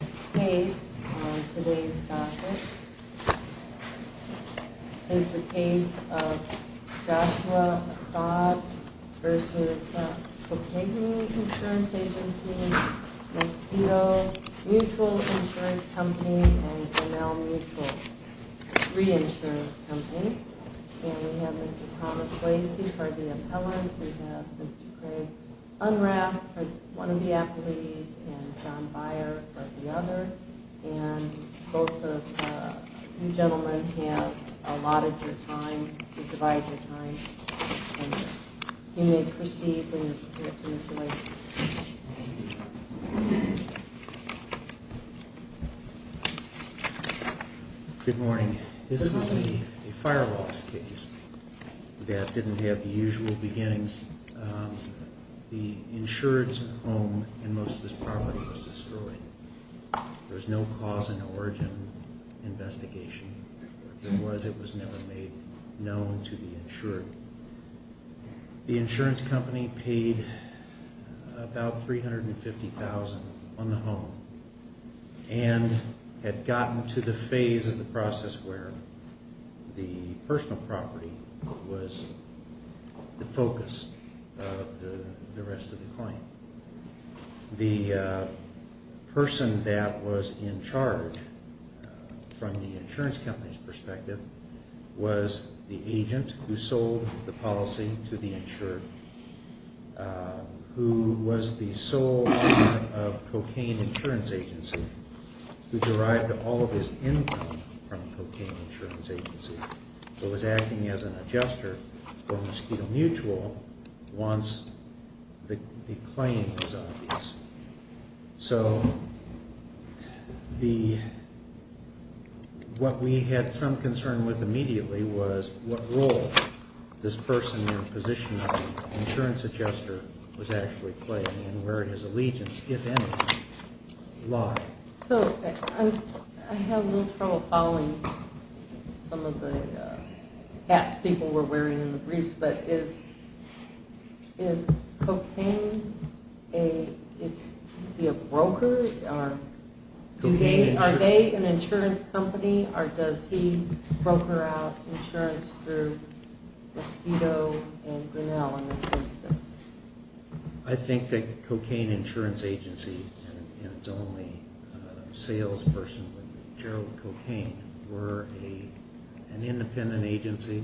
This case on today's topic is the case of Joshua Assad v. Cocagne Insurance Agency, Mosquito Mutual Insurance Company, and Grinnell Mutual Reinsurance Company. And we have Mr. Thomas Lacey for the appellant. We have Mr. Craig Unrath for one of the applicants, and John Byer for the other. And both of you gentlemen have allotted your time, you've divided your time. And you may proceed when you're finished. Thank you. Good morning. This was a firewalls case that didn't have the usual beginnings. The insurance home in most of this property was destroyed. There was no cause and origin investigation. If there was, it was never made known to the insured. The insurance company paid about $350,000 on the home and had gotten to the phase of the process where the personal property was the focus of the rest of the claim. The person that was in charge from the insurance company's perspective was the agent who sold the policy to the insured, who was the sole owner of Cocagne Insurance Agency, who derived all of his income from Cocagne Insurance Agency, who was acting as an adjuster for Mosquito Mutual once the claim was obvious. So what we had some concern with immediately was what role this person in the position of insurance adjuster was actually playing and where his allegiance, if any, lied. So I have a little trouble following some of the hats people were wearing in the briefs, but is Cocagne, is he a broker? Are they an insurance company or does he broker out insurance through Mosquito and Grinnell in this instance? I think that Cocagne Insurance Agency and its only salesperson, Gerald Cocagne, were an independent agency.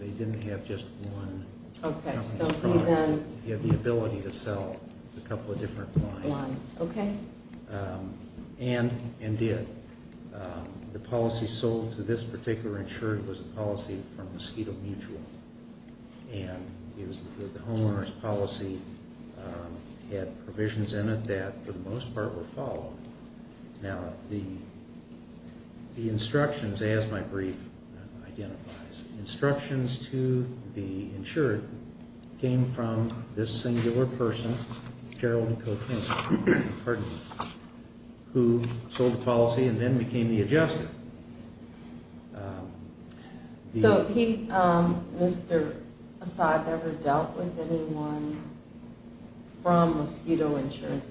They didn't have just one company's products. They had the ability to sell a couple of different lines and did. The policy sold to this particular insured was a policy from Mosquito Mutual and the homeowner's policy had provisions in it that for the most part were followed. Now the instructions, as my brief identifies, the instructions to the insured came from this singular person, Gerald Cocagne, who sold the policy and then became the adjuster. So has Mr. Assad ever dealt with anyone from Mosquito Insurance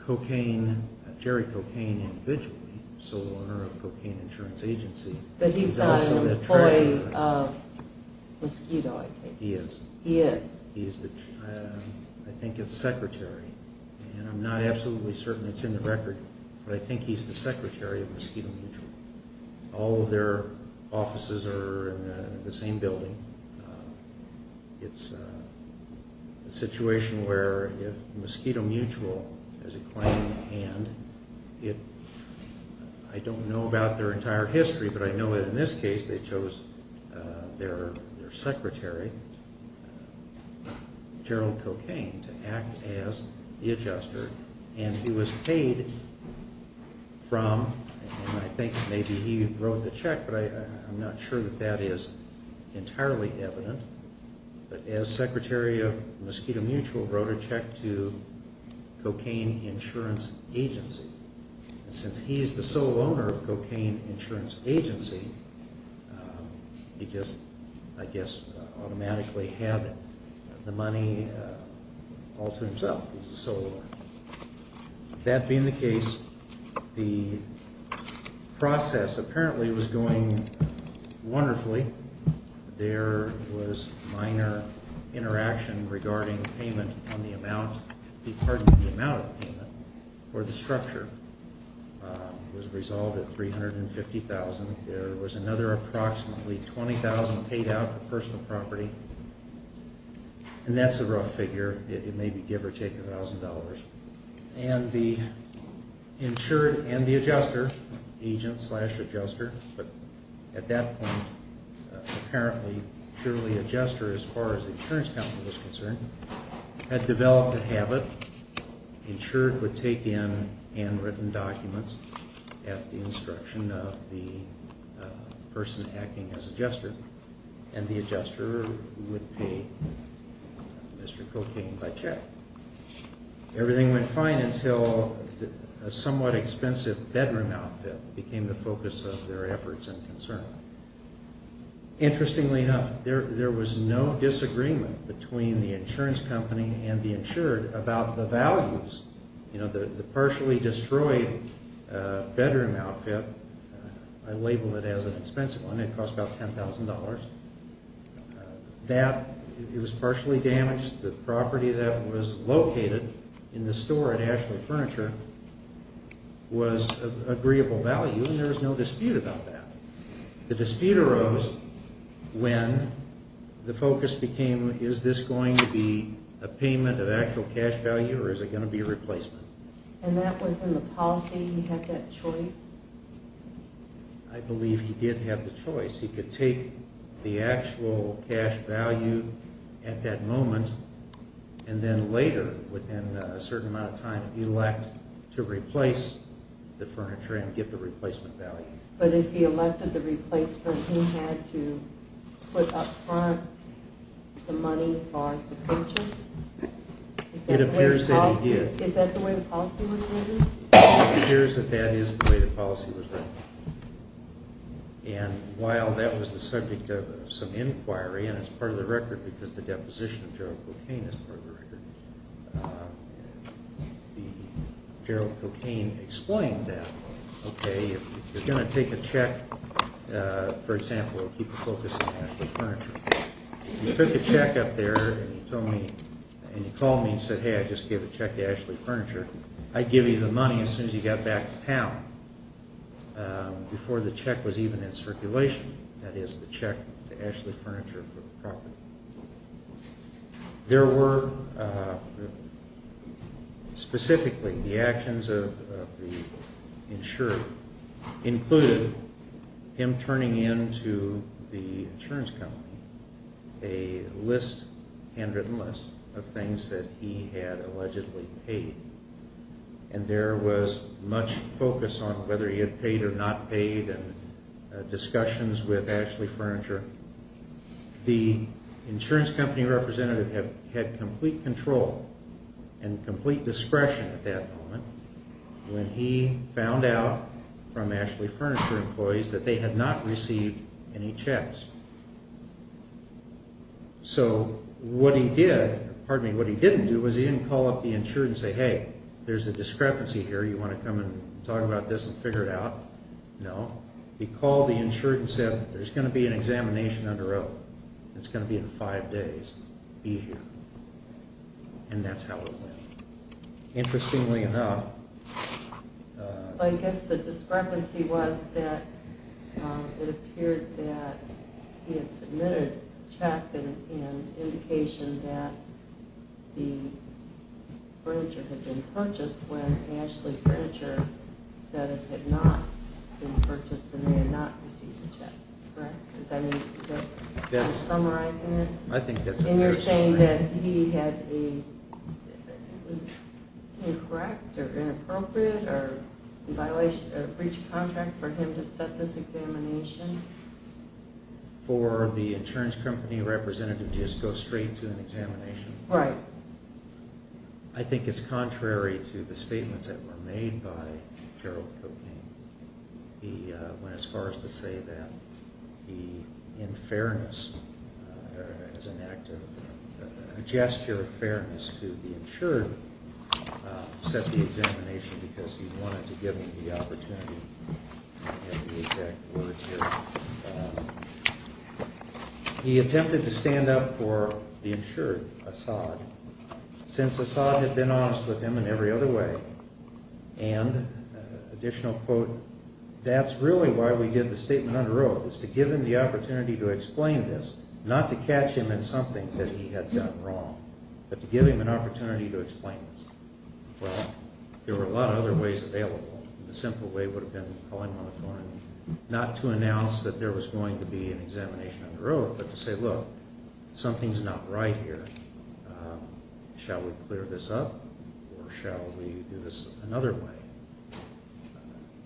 Company? Jerry Cocagne individually, sole owner of Cocagne Insurance Agency. But he's not a employee of Mosquito, I take it? He is. He is? I think it's secretary and I'm not absolutely certain it's in the record, but I think he's the secretary of Mosquito Mutual. All of their offices are in the same building. It's a situation where if Mosquito Mutual has a claim to hand, I don't know about their entire history, but I know that in this case they chose their secretary, Gerald Cocagne, to act as the adjuster. And he was paid from, and I think maybe he wrote the check, but I'm not sure that that is entirely evident, but as secretary of Mosquito Mutual wrote a check to Cocagne Insurance Agency. And since he's the sole owner of Cocagne Insurance Agency, he just, I guess, automatically had the money all to himself. He's the sole owner. That being the case, the process apparently was going wonderfully. There was minor interaction regarding payment on the amount, pardon me, the amount of payment for the structure. It was resolved at $350,000. There was another approximately $20,000 paid out for personal property. And that's a rough figure. It may be give or take $1,000. And the insured and the adjuster, agent slash adjuster, but at that point apparently purely adjuster as far as the insurance company was concerned, had developed a habit. Insured would take in handwritten documents at the instruction of the person acting as adjuster. And the adjuster would pay Mr. Cocagne by check. Everything went fine until a somewhat expensive bedroom outfit became the focus of their efforts and concern. Interestingly enough, there was no disagreement between the insurance company and the insured about the values. You know, the partially destroyed bedroom outfit, I labeled it as an expensive one. It cost about $10,000. That, it was partially damaged. The property that was located in the store at Ashland Furniture was of agreeable value, and there was no dispute about that. The dispute arose when the focus became, is this going to be a payment of actual cash value or is it going to be a replacement? And that was in the policy, he had that choice? I believe he did have the choice. He could take the actual cash value at that moment and then later, within a certain amount of time, elect to replace the furniture and get the replacement value. But if he elected the replacement, he had to put up front the money for the purchase? It appears that he did. Is that the way the policy was written? It appears that that is the way the policy was written. And while that was the subject of some inquiry, and it's part of the record because the deposition of Gerald Cocaine is part of the record, Gerald Cocaine explained that, okay, if you're going to take a check, for example, we'll keep the focus on Ashland Furniture, you took a check up there and you told me, and you called me and said, hey, I just gave a check to Ashland Furniture, I'd give you the money as soon as you got back to town, before the check was even in circulation, that is, the check to Ashland Furniture for the property. There were, specifically, the actions of the insurer included him turning in to the insurance company a handwritten list of things that he had allegedly paid. And there was much focus on whether he had paid or not paid and discussions with Ashland Furniture. The insurance company representative had complete control and complete discretion at that moment when he found out from Ashland Furniture employees that they had not received any checks. So what he did, pardon me, what he didn't do was he didn't call up the insurer and say, hey, there's a discrepancy here, you want to come and talk about this and figure it out? No. He called the insurer and said, there's going to be an examination under oath. It's going to be in five days. Be here. And that's how it went. Interestingly enough... I guess the discrepancy was that it appeared that he had submitted a check in indication that the furniture had been purchased when Ashland Furniture said it had not been purchased and they had not received a check. Correct? Does that make sense? Are you summarizing it? I think that's a fair summary. And you're saying that he had the... It was incorrect or inappropriate or in violation of breach of contract for him to set this examination? For the insurance company representative to just go straight to an examination. Right. I think it's contrary to the statements that were made by Gerald Cocaine. He went as far as to say that the unfairness as an act of gesture of fairness to the insured set the examination because he wanted to give him the opportunity. I don't have the exact words here. He attempted to stand up for the insured, Assad, since Assad had been honest with him in every other way. And additional quote, that's really why we did the statement under oath, was to give him the opportunity to explain this, not to catch him in something that he had done wrong, but to give him an opportunity to explain this. Well, there were a lot of other ways available. The simple way would have been calling him on the phone, not to announce that there was going to be an examination under oath, but to say, look, something's not right here. Shall we clear this up or shall we do this another way?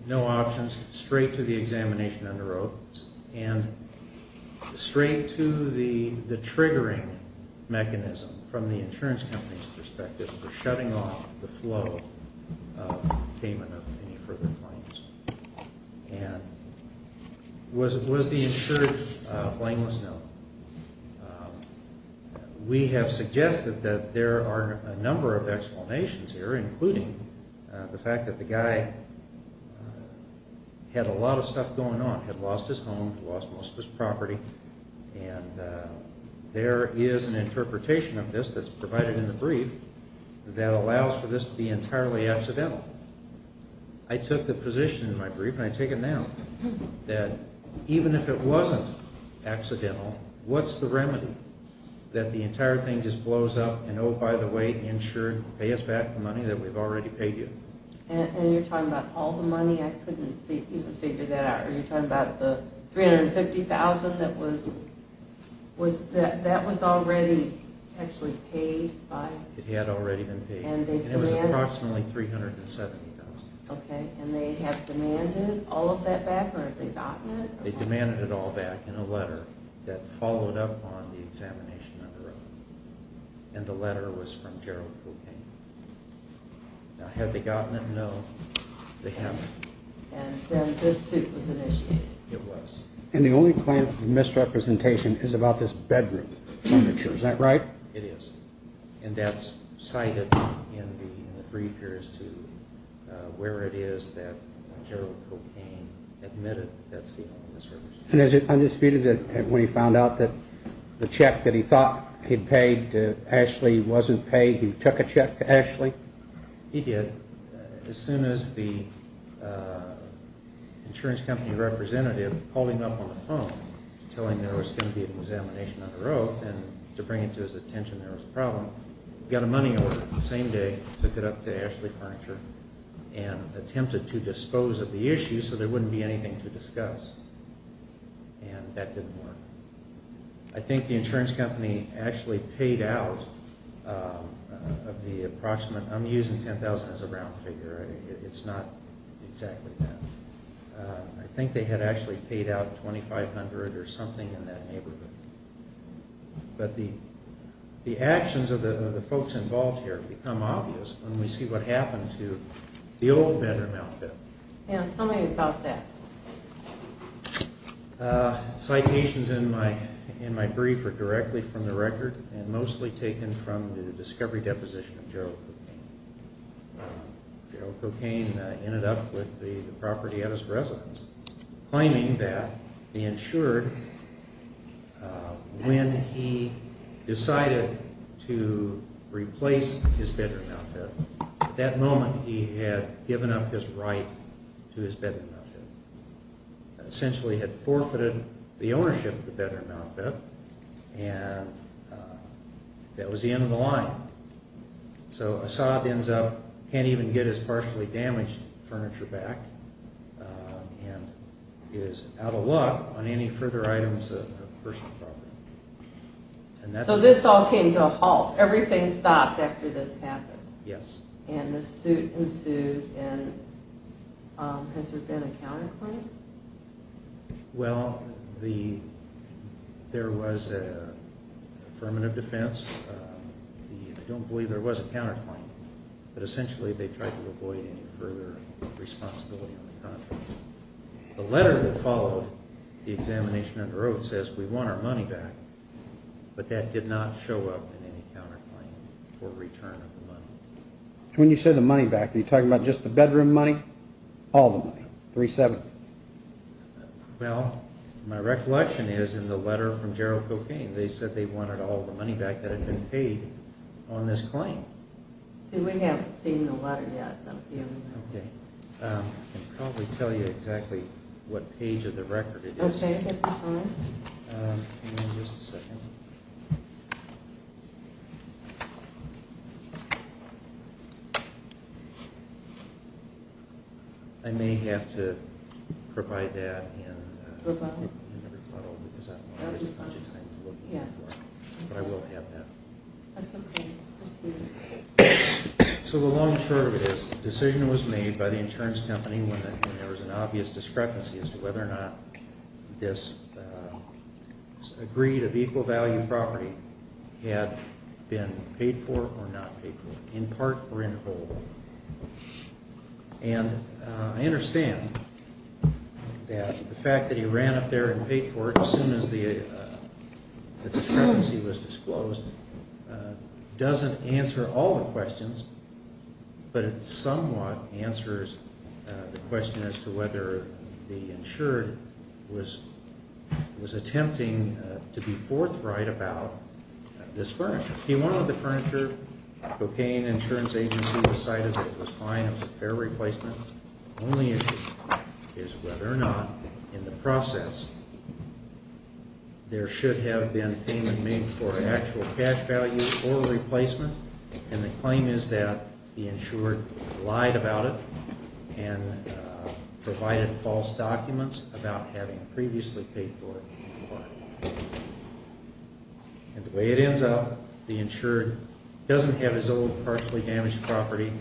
No options. Straight to the examination under oath and straight to the triggering mechanism from the insurance company's perspective for shutting off the flow of payment of any further claims. Was the insured flameless? No. We have suggested that there are a number of explanations here, including the fact that the guy had a lot of stuff going on, had lost his home, lost most of his property, and there is an interpretation of this that's provided in the brief that allows for this to be entirely accidental. I took the position in my brief, and I take it now, that even if it wasn't accidental, what's the remedy? That the entire thing just blows up and, oh, by the way, insured, pay us back the money that we've already paid you. And you're talking about all the money? I couldn't even figure that out. You're talking about the $350,000 that was already actually paid by? It had already been paid, and it was approximately $370,000. Okay, and they have demanded all of that back, or have they gotten it? They demanded it all back in a letter that followed up on the examination under oath, and the letter was from Gerald Cooke. Now, have they gotten it? No, they haven't. And then this suit was initiated? It was. And the only claim of misrepresentation is about this bedroom furniture. Is that right? It is. And that's cited in the brief here as to where it is that Gerald Cooke came, admitted that that's the only misrepresentation. And is it undisputed that when he found out that the check that he thought he'd paid to Ashley wasn't paid, he took a check to Ashley? He did. As soon as the insurance company representative called him up on the phone to tell him there was going to be an examination under oath and to bring it to his attention there was a problem, he got a money order the same day, took it up to Ashley Furniture, and attempted to dispose of the issue so there wouldn't be anything to discuss. And that didn't work. I think the insurance company actually paid out of the approximate I'm using $10,000 as a round figure. It's not exactly that. I think they had actually paid out $2,500 or something in that neighborhood. But the actions of the folks involved here become obvious when we see what happened to the old bedroom outfit. Tell me about that. Citations in my brief are directly from the record and mostly taken from the discovery deposition of Gerald Cocaine. Gerald Cocaine ended up with the property at his residence claiming that the insurer, when he decided to replace his bedroom outfit, at that moment he had given up his right to his bedroom outfit. Essentially he had forfeited the ownership of the bedroom outfit and that was the end of the line. So Asad ends up, can't even get his partially damaged furniture back and is out of luck on any further items of personal property. So this all came to a halt. Everything stopped after this happened. Yes. And this suit ensued and has there been a counterclaim? Well, there was an affirmative defense. I don't believe there was a counterclaim. But essentially they tried to avoid any further responsibility on the contract. The letter that followed the examination under oath says we want our money back. But that did not show up in any counterclaim for return of the money. When you say the money back, are you talking about just the bedroom money? All the money, $370,000? Well, my recollection is in the letter from Gerald Cocaine they said they wanted all the money back that had been paid on this claim. We haven't seen the letter yet. I can probably tell you exactly what page of the record it is. Okay. Give me just a second. I may have to provide that in a rebuttal because I don't want to waste a bunch of time looking at it. But I will have that. So the long and short of it is the decision was made by the insurance company when there was an obvious discrepancy as to whether or not this agreed-of-equal-value property had been paid for or not paid for, in part or in whole. And I understand that the fact that he ran up there and paid for it as soon as the discrepancy was disclosed doesn't answer all the questions, but it somewhat answers the question as to whether the insured was attempting to be forthright about this furniture. He wanted the furniture. The Cocaine Insurance Agency decided it was fine, it was a fair replacement. The only issue is whether or not, in the process, there should have been payment made for an actual cash value or a replacement. And the claim is that the insured lied about it and provided false documents about having previously paid for it in part. And the way it ends up, the insured doesn't have his old partially damaged property,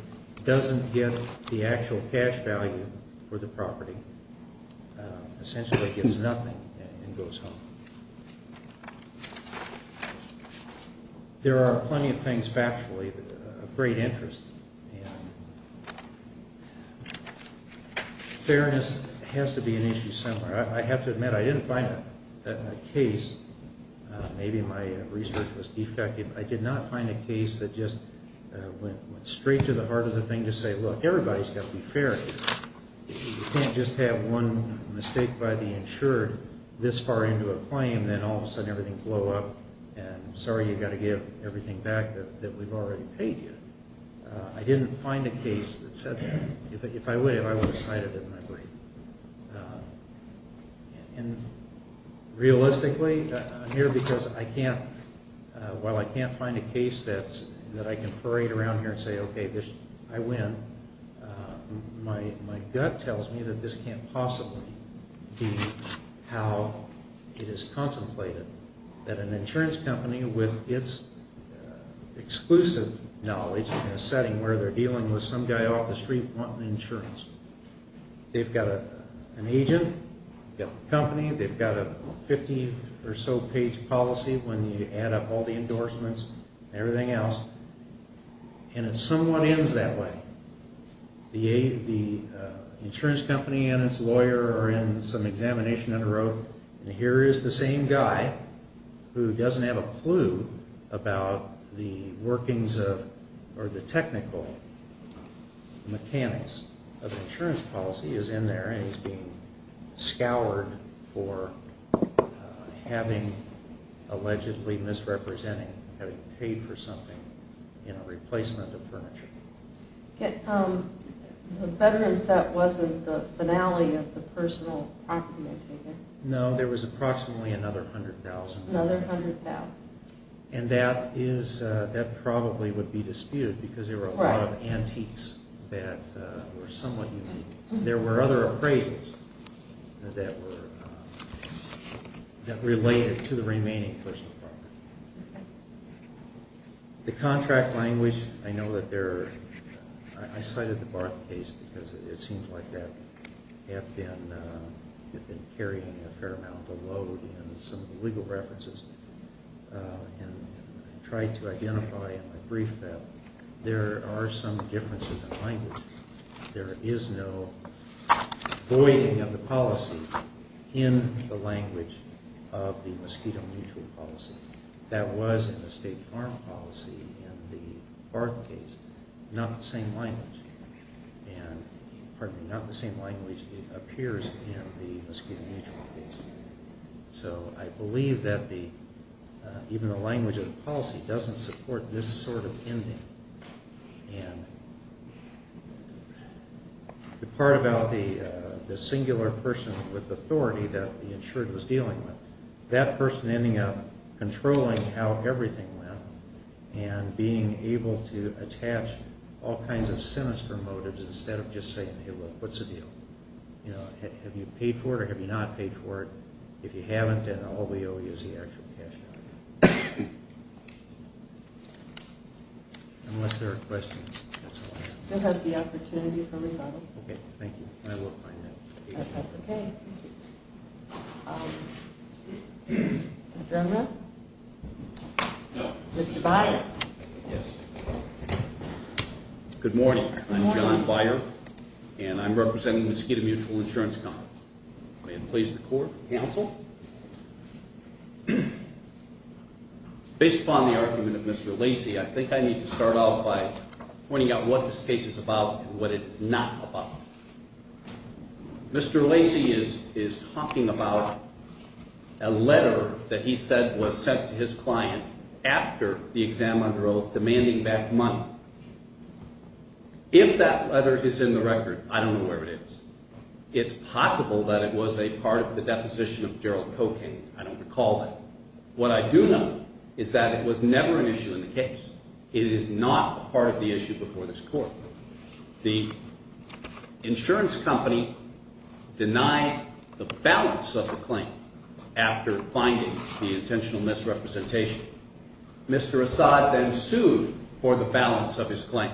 doesn't get the actual cash value for the property, essentially gets nothing and goes home. So, there are plenty of things factually of great interest. Fairness has to be an issue somewhere. I have to admit I didn't find a case, maybe my research was defective, I did not find a case that just went straight to the heart of the thing to say, look, everybody's got to be fair here. You can't just have one mistake by the insured this far into a claim and then all of a sudden everything blow up and sorry, you've got to give everything back that we've already paid you. I didn't find a case that said that. If I would have, I would have cited it in my brief. And realistically, I'm here because I can't, while I can't find a case that I can parade around here and say, okay, I win, my gut tells me that this can't possibly be how it is contemplated, that an insurance company with its exclusive knowledge in a setting where they're dealing with some guy off the street wanting insurance, they've got an agent, they've got the company, they've got a 50 or so page policy when you add up all the endorsements, everything else, and it somewhat ends that way. The insurance company and its lawyer are in some examination in a row and here is the same guy who doesn't have a clue about the workings of or the technical mechanics of insurance policy is in there and he's being scoured for having allegedly misrepresenting, having paid for something in a replacement of furniture. The bedroom set wasn't the finale of the personal property maintainer. No, there was approximately another 100,000. Another 100,000. And that probably would be disputed because there were a lot of antiques that were somewhat unique. There were other appraisals that related to the remaining personal property. The contract language, I know that there are, I cited the Barth case because it seems like that had been carrying a fair amount of load in some of the legal references and tried to identify in my brief that there are some differences in language. There is no voiding of the policy in the language of the mosquito mutual policy. That was in the state farm policy in the Barth case, not the same language. And, pardon me, not the same language appears in the mosquito mutual case. So I believe that even the language of the policy doesn't support this sort of ending. And the part about the singular person with authority that the insured was dealing with, that person ending up controlling how everything went and being able to attach all kinds of sinister motives instead of just saying, hey, look, what's the deal? Have you paid for it or have you not paid for it? If you haven't, then all we owe you is the actual cash. Unless there are questions, that's all I have. We'll have the opportunity for rebuttal. Okay, thank you. I will find out. That's okay. Mr. Unruh? No. Mr. Byer? Yes. Good morning. I'm John Byer, and I'm representing the Mosquito Mutual Insurance Company. May it please the Court, counsel. Based upon the argument of Mr. Lacey, I think I need to start off by pointing out what this case is about and what it is not about. Mr. Lacey is talking about a letter that he said was sent to his client after the exam under oath demanding back money. If that letter is in the record, I don't know where it is. It's possible that it was a part of the deposition of Gerald Cocaine. I don't recall that. What I do know is that it was never an issue in the case. It is not part of the issue before this Court. The insurance company denied the balance of the claim after finding the intentional misrepresentation. Mr. Assad then sued for the balance of his claim.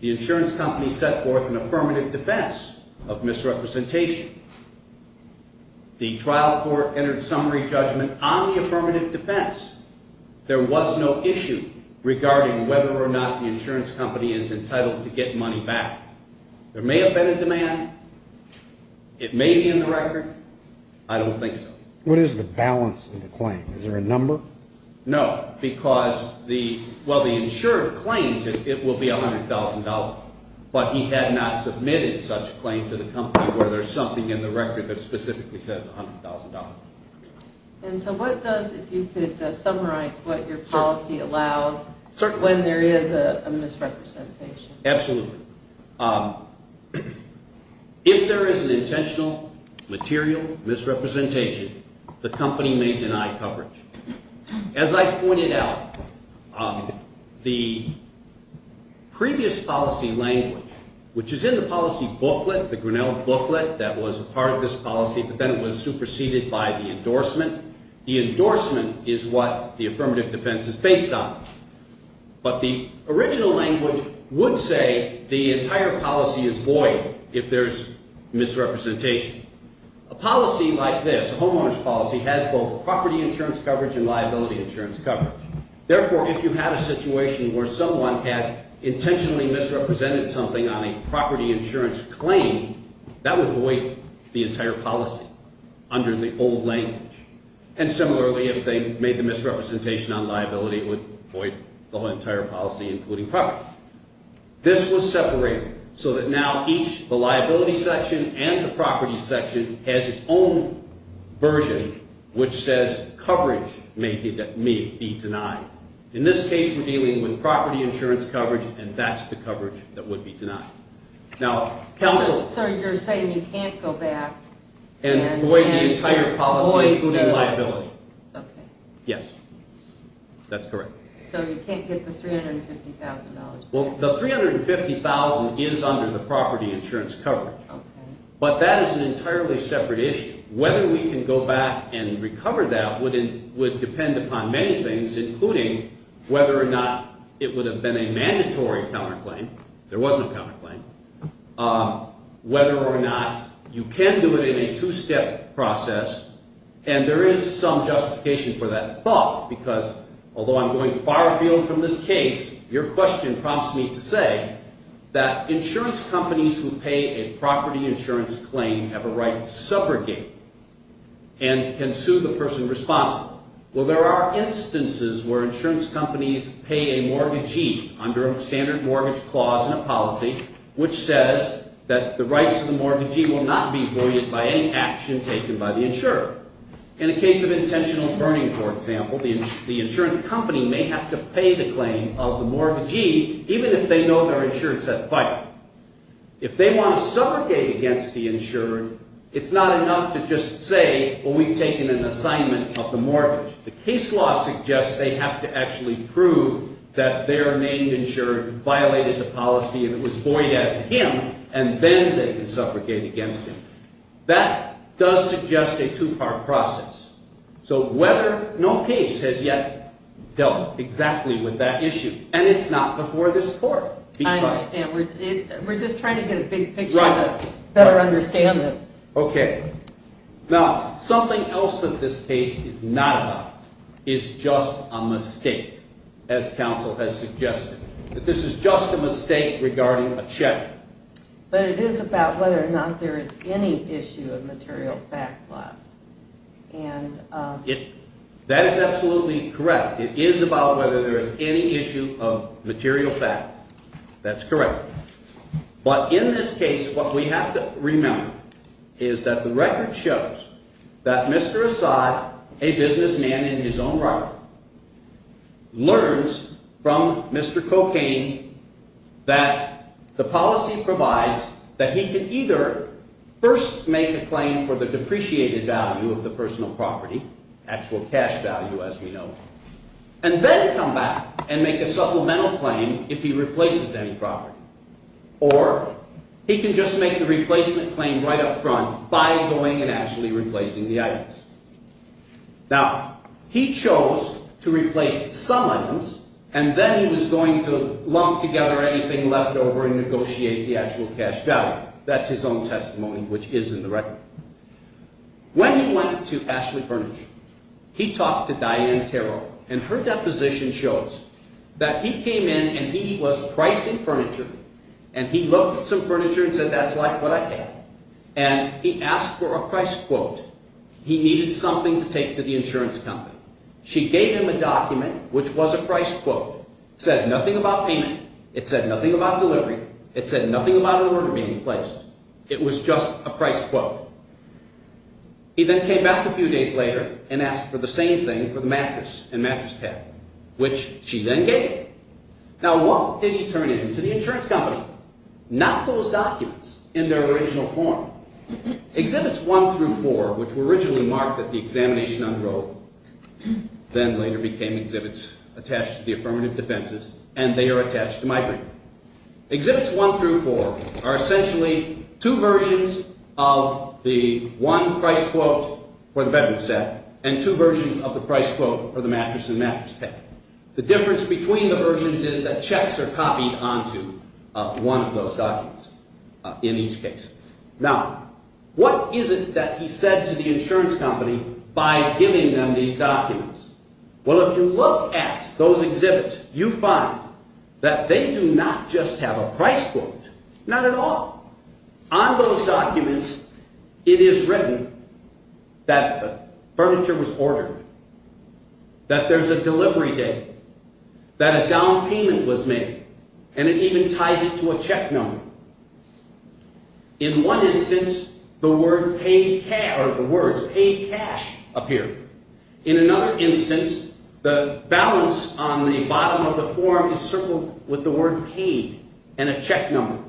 The insurance company set forth an affirmative defense of misrepresentation. The trial court entered summary judgment on the affirmative defense. There was no issue regarding whether or not the insurance company is entitled to get money back. There may have been a demand. It may be in the record. I don't think so. What is the balance of the claim? Is there a number? No, because the insurer claims it will be $100,000, but he had not submitted such a claim to the company where there's something in the record that specifically says $100,000. And so what does, if you could summarize what your policy allows when there is a misrepresentation? Absolutely. If there is an intentional material misrepresentation, the company may deny coverage. As I pointed out, the previous policy language, which is in the policy booklet, the Grinnell booklet, that was a part of this policy, but then it was superseded by the endorsement. The endorsement is what the affirmative defense is based on. But the original language would say the entire policy is void if there's misrepresentation. A policy like this, a homeowner's policy, has both property insurance coverage and liability insurance coverage. Therefore, if you had a situation where someone had intentionally misrepresented something on a property insurance claim, that would void the entire policy under the old language. And similarly, if they made the misrepresentation on liability, it would void the whole entire policy, including property. This was separated so that now each, the liability section and the property section, has its own version which says coverage may be denied. In this case, we're dealing with property insurance coverage, and that's the coverage that would be denied. So you're saying you can't go back? And void the entire policy, including liability. Okay. Yes. That's correct. So you can't get the $350,000? Well, the $350,000 is under the property insurance coverage. Okay. But that is an entirely separate issue. Whether we can go back and recover that would depend upon many things, including whether or not it would have been a mandatory counterclaim. There was no counterclaim. Whether or not you can do it in a two-step process. And there is some justification for that thought, because although I'm going far afield from this case, your question prompts me to say that insurance companies who pay a property insurance claim have a right to subrogate and can sue the person responsible. Well, there are instances where insurance companies pay a mortgagee under a standard mortgage clause in a policy, which says that the rights of the mortgagee will not be void by any action taken by the insurer. In a case of intentional burning, for example, the insurance company may have to pay the claim of the mortgagee, even if they know their insurance had filed. If they want to subrogate against the insurer, it's not enough to just say, well, we've taken an assignment of the mortgage. The case law suggests they have to actually prove that their named insurer violated the policy and it was void as him, and then they can subrogate against him. That does suggest a two-part process. So whether no case has yet dealt exactly with that issue, and it's not before this court. I understand. We're just trying to get a big picture to better understand this. Okay. Now, something else that this case is not about is just a mistake, as counsel has suggested, that this is just a mistake regarding a check. But it is about whether or not there is any issue of material fact left. That is absolutely correct. It is about whether there is any issue of material fact. That's correct. But in this case, what we have to remember is that the record shows that Mr. Asai, a businessman in his own right, learns from Mr. Cocaine that the policy provides that he can either first make a claim for the depreciated value of the personal property, actual cash value, as we know, and then come back and make a supplemental claim if he replaces any property, or he can just make the replacement claim right up front by going and actually replacing the items. Now, he chose to replace some items, and then he was going to lump together anything left over and negotiate the actual cash value. That's his own testimony, which is in the record. When he went to Ashley Furniture, he talked to Diane Terrell, and her deposition shows that he came in and he was pricing furniture, and he looked at some furniture and said, that's like what I have. And he asked for a price quote. He needed something to take to the insurance company. She gave him a document, which was a price quote. It said nothing about payment. It said nothing about delivery. It said nothing about an order being placed. It was just a price quote. He then came back a few days later and asked for the same thing for the mattress and mattress pad, which she then gave him. Now, what did he turn in to the insurance company? Not those documents in their original form. Exhibits 1 through 4, which were originally marked that the examination unrolled, then later became exhibits attached to the affirmative defenses, and they are attached to my paper. Exhibits 1 through 4 are essentially two versions of the one price quote for the bedroom set and two versions of the price quote for the mattress and mattress pad. The difference between the versions is that checks are copied onto one of those documents in each case. Now, what is it that he said to the insurance company by giving them these documents? Well, if you look at those exhibits, you find that they do not just have a price quote, not at all. On those documents, it is written that the furniture was ordered, that there's a delivery date, that a down payment was made, and it even ties it to a check number. In one instance, the words paid cash appear. In another instance, the balance on the bottom of the form is circled with the word paid and a check number.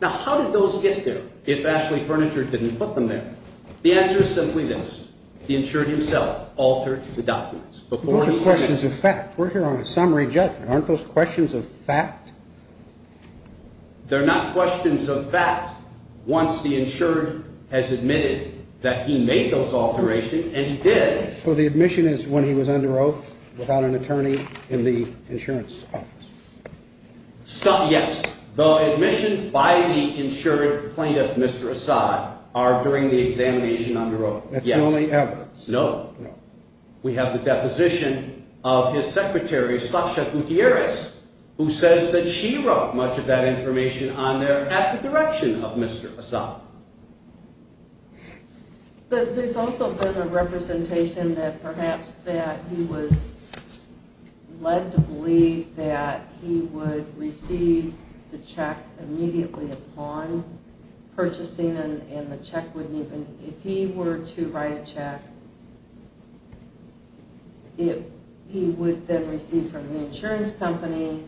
Now, how did those get there if Ashley Furniture didn't put them there? The answer is simply this. The insured himself altered the documents. Those are questions of fact. We're here on a summary judgment. Aren't those questions of fact? They're not questions of fact once the insured has admitted that he made those alterations, and he did. So the admission is when he was under oath without an attorney in the insurance office? Yes. The admissions by the insured plaintiff, Mr. Assad, are during the examination under oath. That's the only evidence? No. We have the deposition of his secretary, Sasha Gutierrez, who says that she wrote much of that information on there at the direction of Mr. Assad. But there's also been a representation that perhaps that he was led to believe that he would receive the check immediately upon purchasing, and if he were to write a check, he would then receive from the insurance company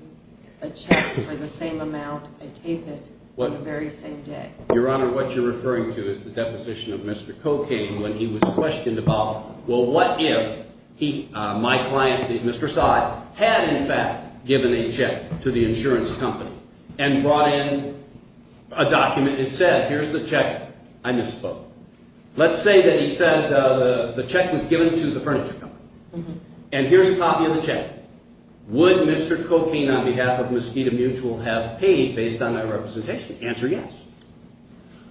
a check for the same amount, I take it, on the very same day. Your Honor, what you're referring to is the deposition of Mr. Cocaine when he was questioned about, well, what if my client, Mr. Assad, had in fact given a check to the insurance company and brought in a document and said, here's the check. I misspoke. Let's say that he said the check was given to the furniture company, and here's a copy of the check. Would Mr. Cocaine on behalf of Mosquito Mutual have paid based on that representation? Answer yes.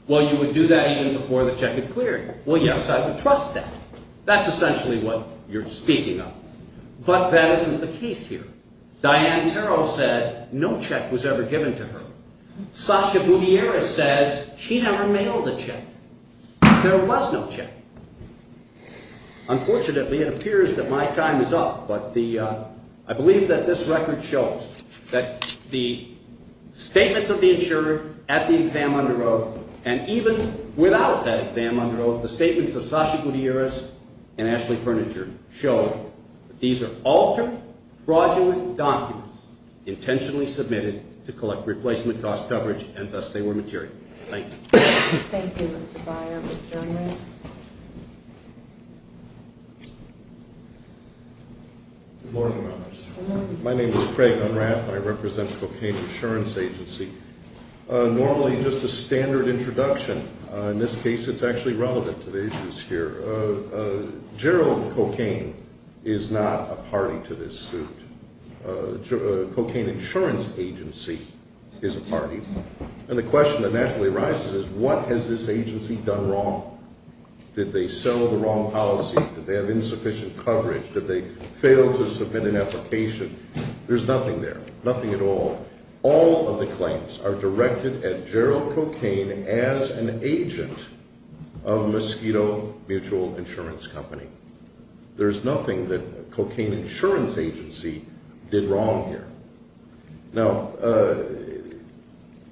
Well, you would do that even before the check had cleared. Well, yes, I would trust that. That's essentially what you're speaking of. But that isn't the case here. Diane Terrell said no check was ever given to her. Sasha Gutierrez says she never mailed a check. There was no check. Unfortunately, it appears that my time is up, but I believe that this record shows that the statements of the insurer at the exam under oath, and even without that exam under oath, the statements of Sasha Gutierrez and Ashley Furniture show that these are altered, fraudulent documents intentionally submitted to collect replacement cost coverage, and thus they were material. Thank you. Thank you, Mr. Byer. Mr. Gerling? Good morning, Your Honors. Good morning. My name is Craig Unrath, and I represent Cocaine Insurance Agency. Normally, just a standard introduction. In this case, it's actually relevant to the issues here. Gerald Cocaine is not a party to this suit. Cocaine Insurance Agency is a party, and the question that naturally arises is what has this agency done wrong? Did they sell the wrong policy? Did they have insufficient coverage? Did they fail to submit an application? There's nothing there, nothing at all. All of the claims are directed at Gerald Cocaine as an agent of Mosquito Mutual Insurance Company. There's nothing that Cocaine Insurance Agency did wrong here. Now,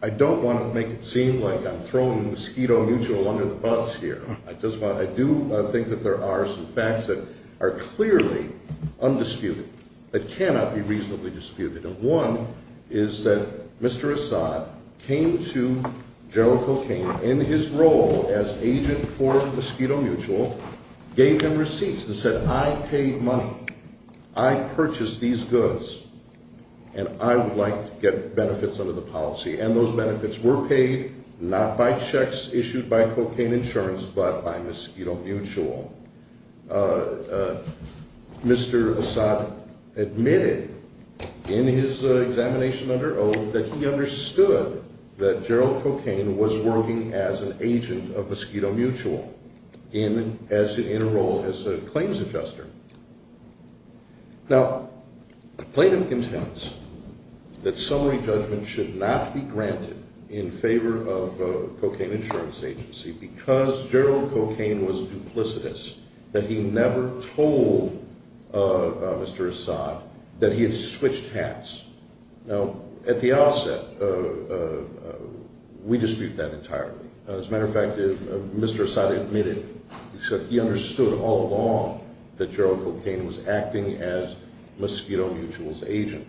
I don't want to make it seem like I'm throwing Mosquito Mutual under the bus here. I do think that there are some facts that are clearly undisputed, that cannot be reasonably disputed, and one is that Mr. Assad came to Gerald Cocaine in his role as agent for Mosquito Mutual, gave him receipts, and said, I paid money. I purchased these goods, and I would like to get benefits under the policy, and those benefits were paid not by checks issued by Cocaine Insurance, but by Mosquito Mutual. Mr. Assad admitted in his examination under oath that he understood that Gerald Cocaine was working as an agent of Mosquito Mutual, in a role as a claims adjuster. Now, Clayton contends that summary judgment should not be granted in favor of Cocaine Insurance Agency because Gerald Cocaine was duplicitous, that he never told Mr. Assad that he had switched hats. Now, at the outset, we dispute that entirely. As a matter of fact, Mr. Assad admitted that he understood all along that Gerald Cocaine was acting as Mosquito Mutual's agent.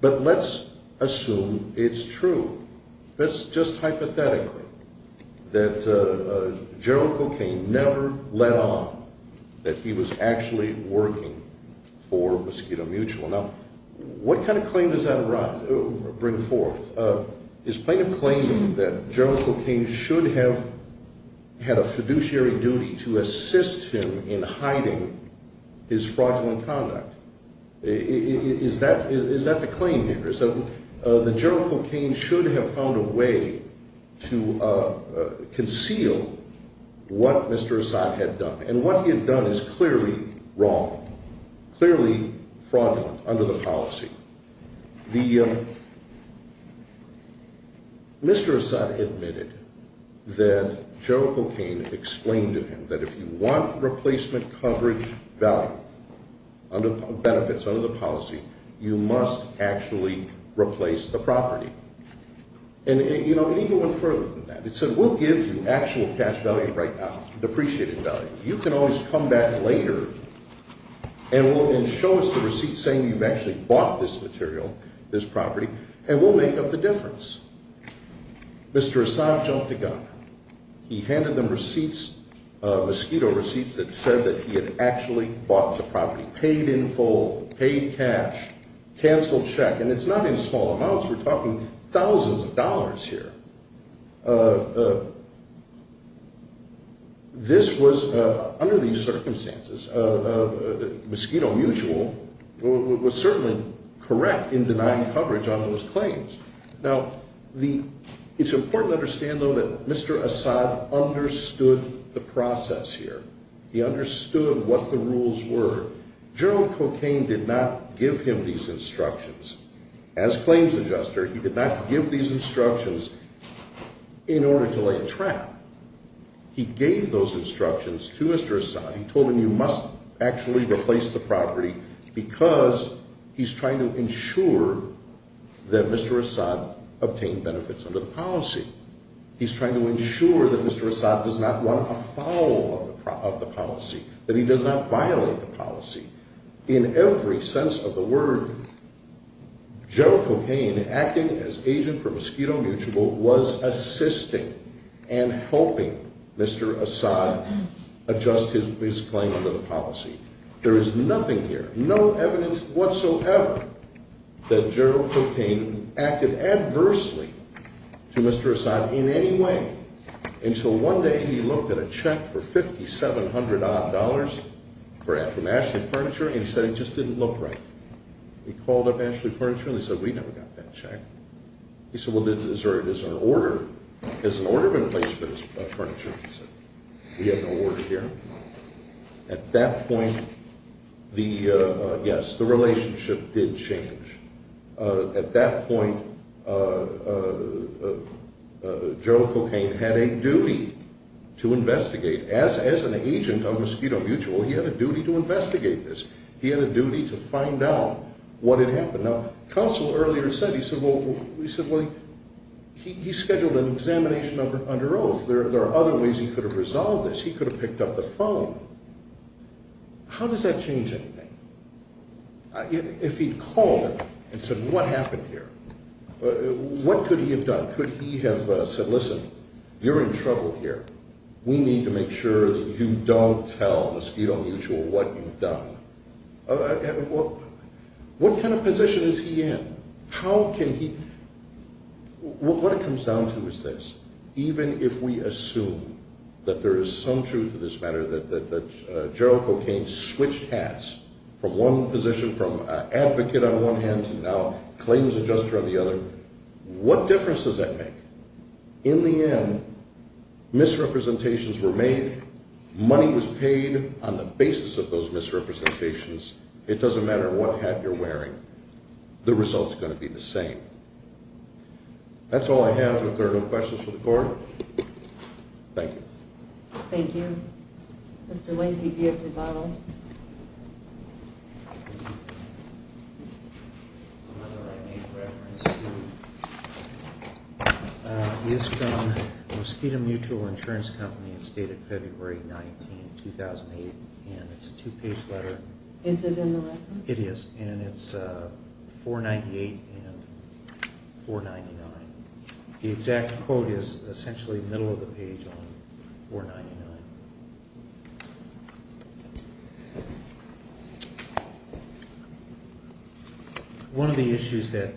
But let's assume it's true. Let's just hypothetically that Gerald Cocaine never let on that he was actually working for Mosquito Mutual. Now, what kind of claim does that bring forth? Is Clayton claiming that Gerald Cocaine should have had a fiduciary duty to assist him in hiding his fraudulent conduct? Is that the claim here? So that Gerald Cocaine should have found a way to conceal what Mr. Assad had done. And what he had done is clearly wrong, clearly fraudulent under the policy. Mr. Assad admitted that Gerald Cocaine explained to him that if you want replacement coverage value, benefits under the policy, you must actually replace the property. And it even went further than that. It said, we'll give you actual cash value right now, depreciated value. You can always come back later and show us the receipt saying you've actually bought this material, this property, and we'll make up the difference. Mr. Assad jumped the gun. He handed them receipts, Mosquito receipts, that said that he had actually bought the property, paid in full, paid cash, canceled check. And it's not in small amounts. We're talking thousands of dollars here. This was, under these circumstances, Mosquito Mutual was certainly correct in denying coverage on those claims. Now, it's important to understand, though, that Mr. Assad understood the process here. He understood what the rules were. Gerald Cocaine did not give him these instructions. As claims adjuster, he did not give these instructions in order to lay a trap. He gave those instructions to Mr. Assad. He told him you must actually replace the property because he's trying to ensure that Mr. Assad obtained benefits under the policy. He's trying to ensure that Mr. Assad does not want a follow-up of the policy, that he does not violate the policy. In every sense of the word, Gerald Cocaine, acting as agent for Mosquito Mutual, was assisting and helping Mr. Assad adjust his claim under the policy. There is nothing here, no evidence whatsoever, that Gerald Cocaine acted adversely to Mr. Assad in any way. And so one day, he looked at a check for $5,700-odd from Ashley Furniture, and he said it just didn't look right. He called up Ashley Furniture, and he said, we never got that check. He said, well, does an order have been placed for this furniture? He said, we have no order here. At that point, yes, the relationship did change. At that point, Gerald Cocaine had a duty to investigate. As an agent of Mosquito Mutual, he had a duty to investigate this. He had a duty to find out what had happened. Now, Counsel earlier said, he said, well, he scheduled an examination under oath. There are other ways he could have resolved this. He could have picked up the phone. How does that change anything? If he'd called and said, what happened here? What could he have done? Could he have said, listen, you're in trouble here. We need to make sure that you don't tell Mosquito Mutual what you've done. What kind of position is he in? How can he? What it comes down to is this. Even if we assume that there is some truth to this matter, that Gerald Cocaine switched hats from one position, from advocate on one hand to now claims adjuster on the other, what difference does that make? In the end, misrepresentations were made. Money was paid on the basis of those misrepresentations. It doesn't matter what hat you're wearing. The result's going to be the same. That's all I have. If there are no questions for the Court, thank you. Thank you. Mr. Lacey, do you have your bottle? It's from Mosquito Mutual Insurance Company. It's dated February 19, 2008. And it's a two-page letter. Is it in the record? It is. And it's 498 and 499. The exact quote is essentially the middle of the page on 499. One of the issues that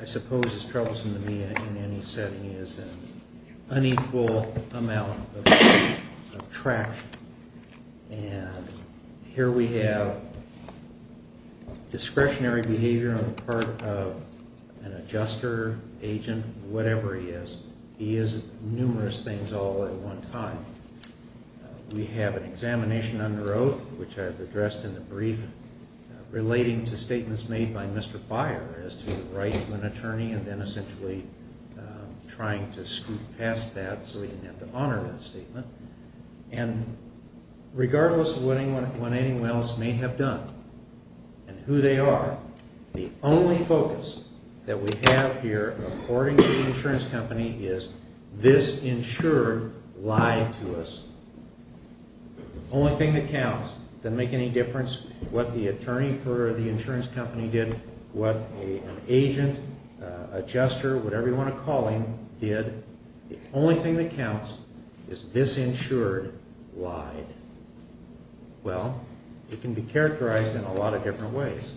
I suppose is troublesome to me in any setting is an unequal amount of traction. And here we have discretionary behavior on the part of an adjuster, agent, whatever he is. He is numerous things all at one time. We have an examination under oath, which I've addressed in the brief, relating to statements made by Mr. Byer as to the right of an attorney and then essentially trying to scoot past that so he didn't have to honor that statement. And regardless of what anyone else may have done and who they are, the only focus that we have here, according to the insurance company, is this insurer lied to us. The only thing that counts doesn't make any difference what the attorney for the insurance company did, what an agent, adjuster, whatever you want to call him, did. The only thing that counts is this insurer lied. Well, it can be characterized in a lot of different ways.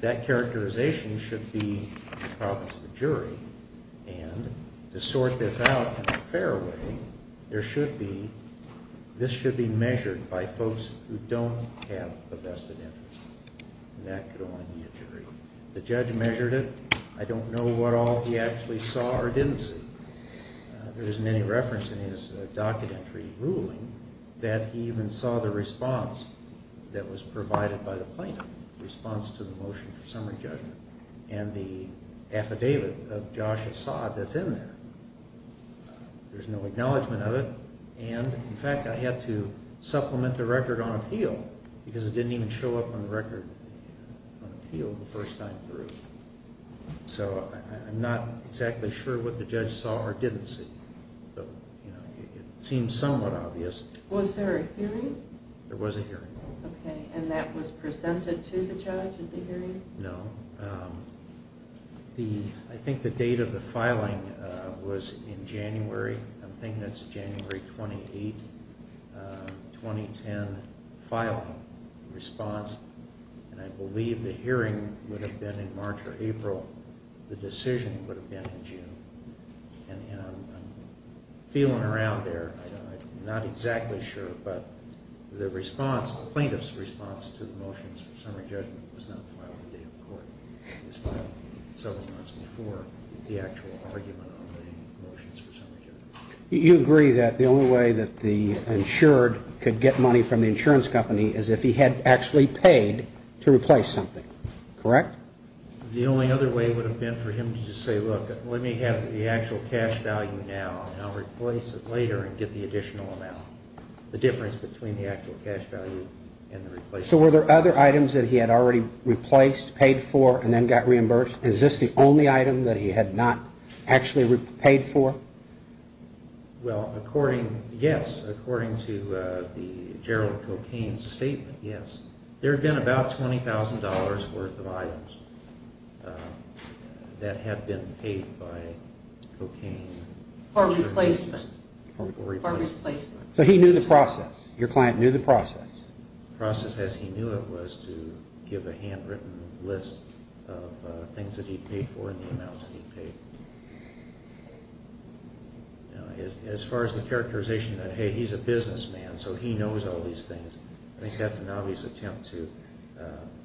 That characterization should be the province of the jury. And to sort this out in a fair way, there should be, this should be measured by folks who don't have a vested interest. And that could only be a jury. The judge measured it. I don't know what all he actually saw or didn't see. There isn't any reference in his documentary ruling that he even saw the response that was provided by the plaintiff, the response to the motion for summary judgment, and the affidavit of Josh Assad that's in there. There's no acknowledgment of it. And, in fact, I had to supplement the record on appeal because it didn't even show up on the record on appeal the first time through. So I'm not exactly sure what the judge saw or didn't see. It seems somewhat obvious. Was there a hearing? There was a hearing. Okay. And that was presented to the judge at the hearing? No. I think the date of the filing was in January. I'm thinking it's January 28, 2010 filing response. And I believe the hearing would have been in March or April. The decision would have been in June. And I'm feeling around there. I'm not exactly sure, but the response, the plaintiff's response to the motions for summary judgment was not filed the day of court. It was filed several months before the actual argument on the motions for summary judgment. You agree that the only way that the insured could get money from the insurance company is if he had actually paid to replace something, correct? The only other way would have been for him to just say, look, let me have the actual cash value now, and I'll replace it later and get the additional amount. The difference between the actual cash value and the replacement. So were there other items that he had already replaced, paid for, and then got reimbursed? Is this the only item that he had not actually paid for? Well, according, yes. According to the Gerald Cocaine statement, yes. There had been about $20,000 worth of items that had been paid by Cocaine. For replacement. For replacement. So he knew the process. Your client knew the process. The process as he knew it was to give a handwritten list of things that he paid for and the amounts that he paid. As far as the characterization that, hey, he's a businessman, so he knows all these things, I think that's an obvious attempt to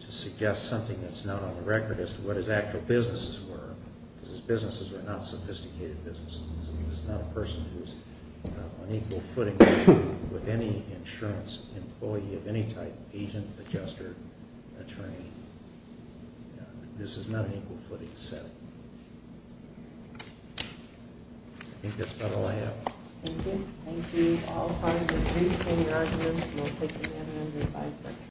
suggest something that's not on the record as to what his actual businesses were, because his businesses were not sophisticated businesses. He's not a person who's on equal footing with any insurance employee of any type, agent, adjuster, attorney. This is not an equal footing settlement. I think that's about all I have. Thank you. Thank you. All parties, if you'd like to say your arguments, we'll take them in.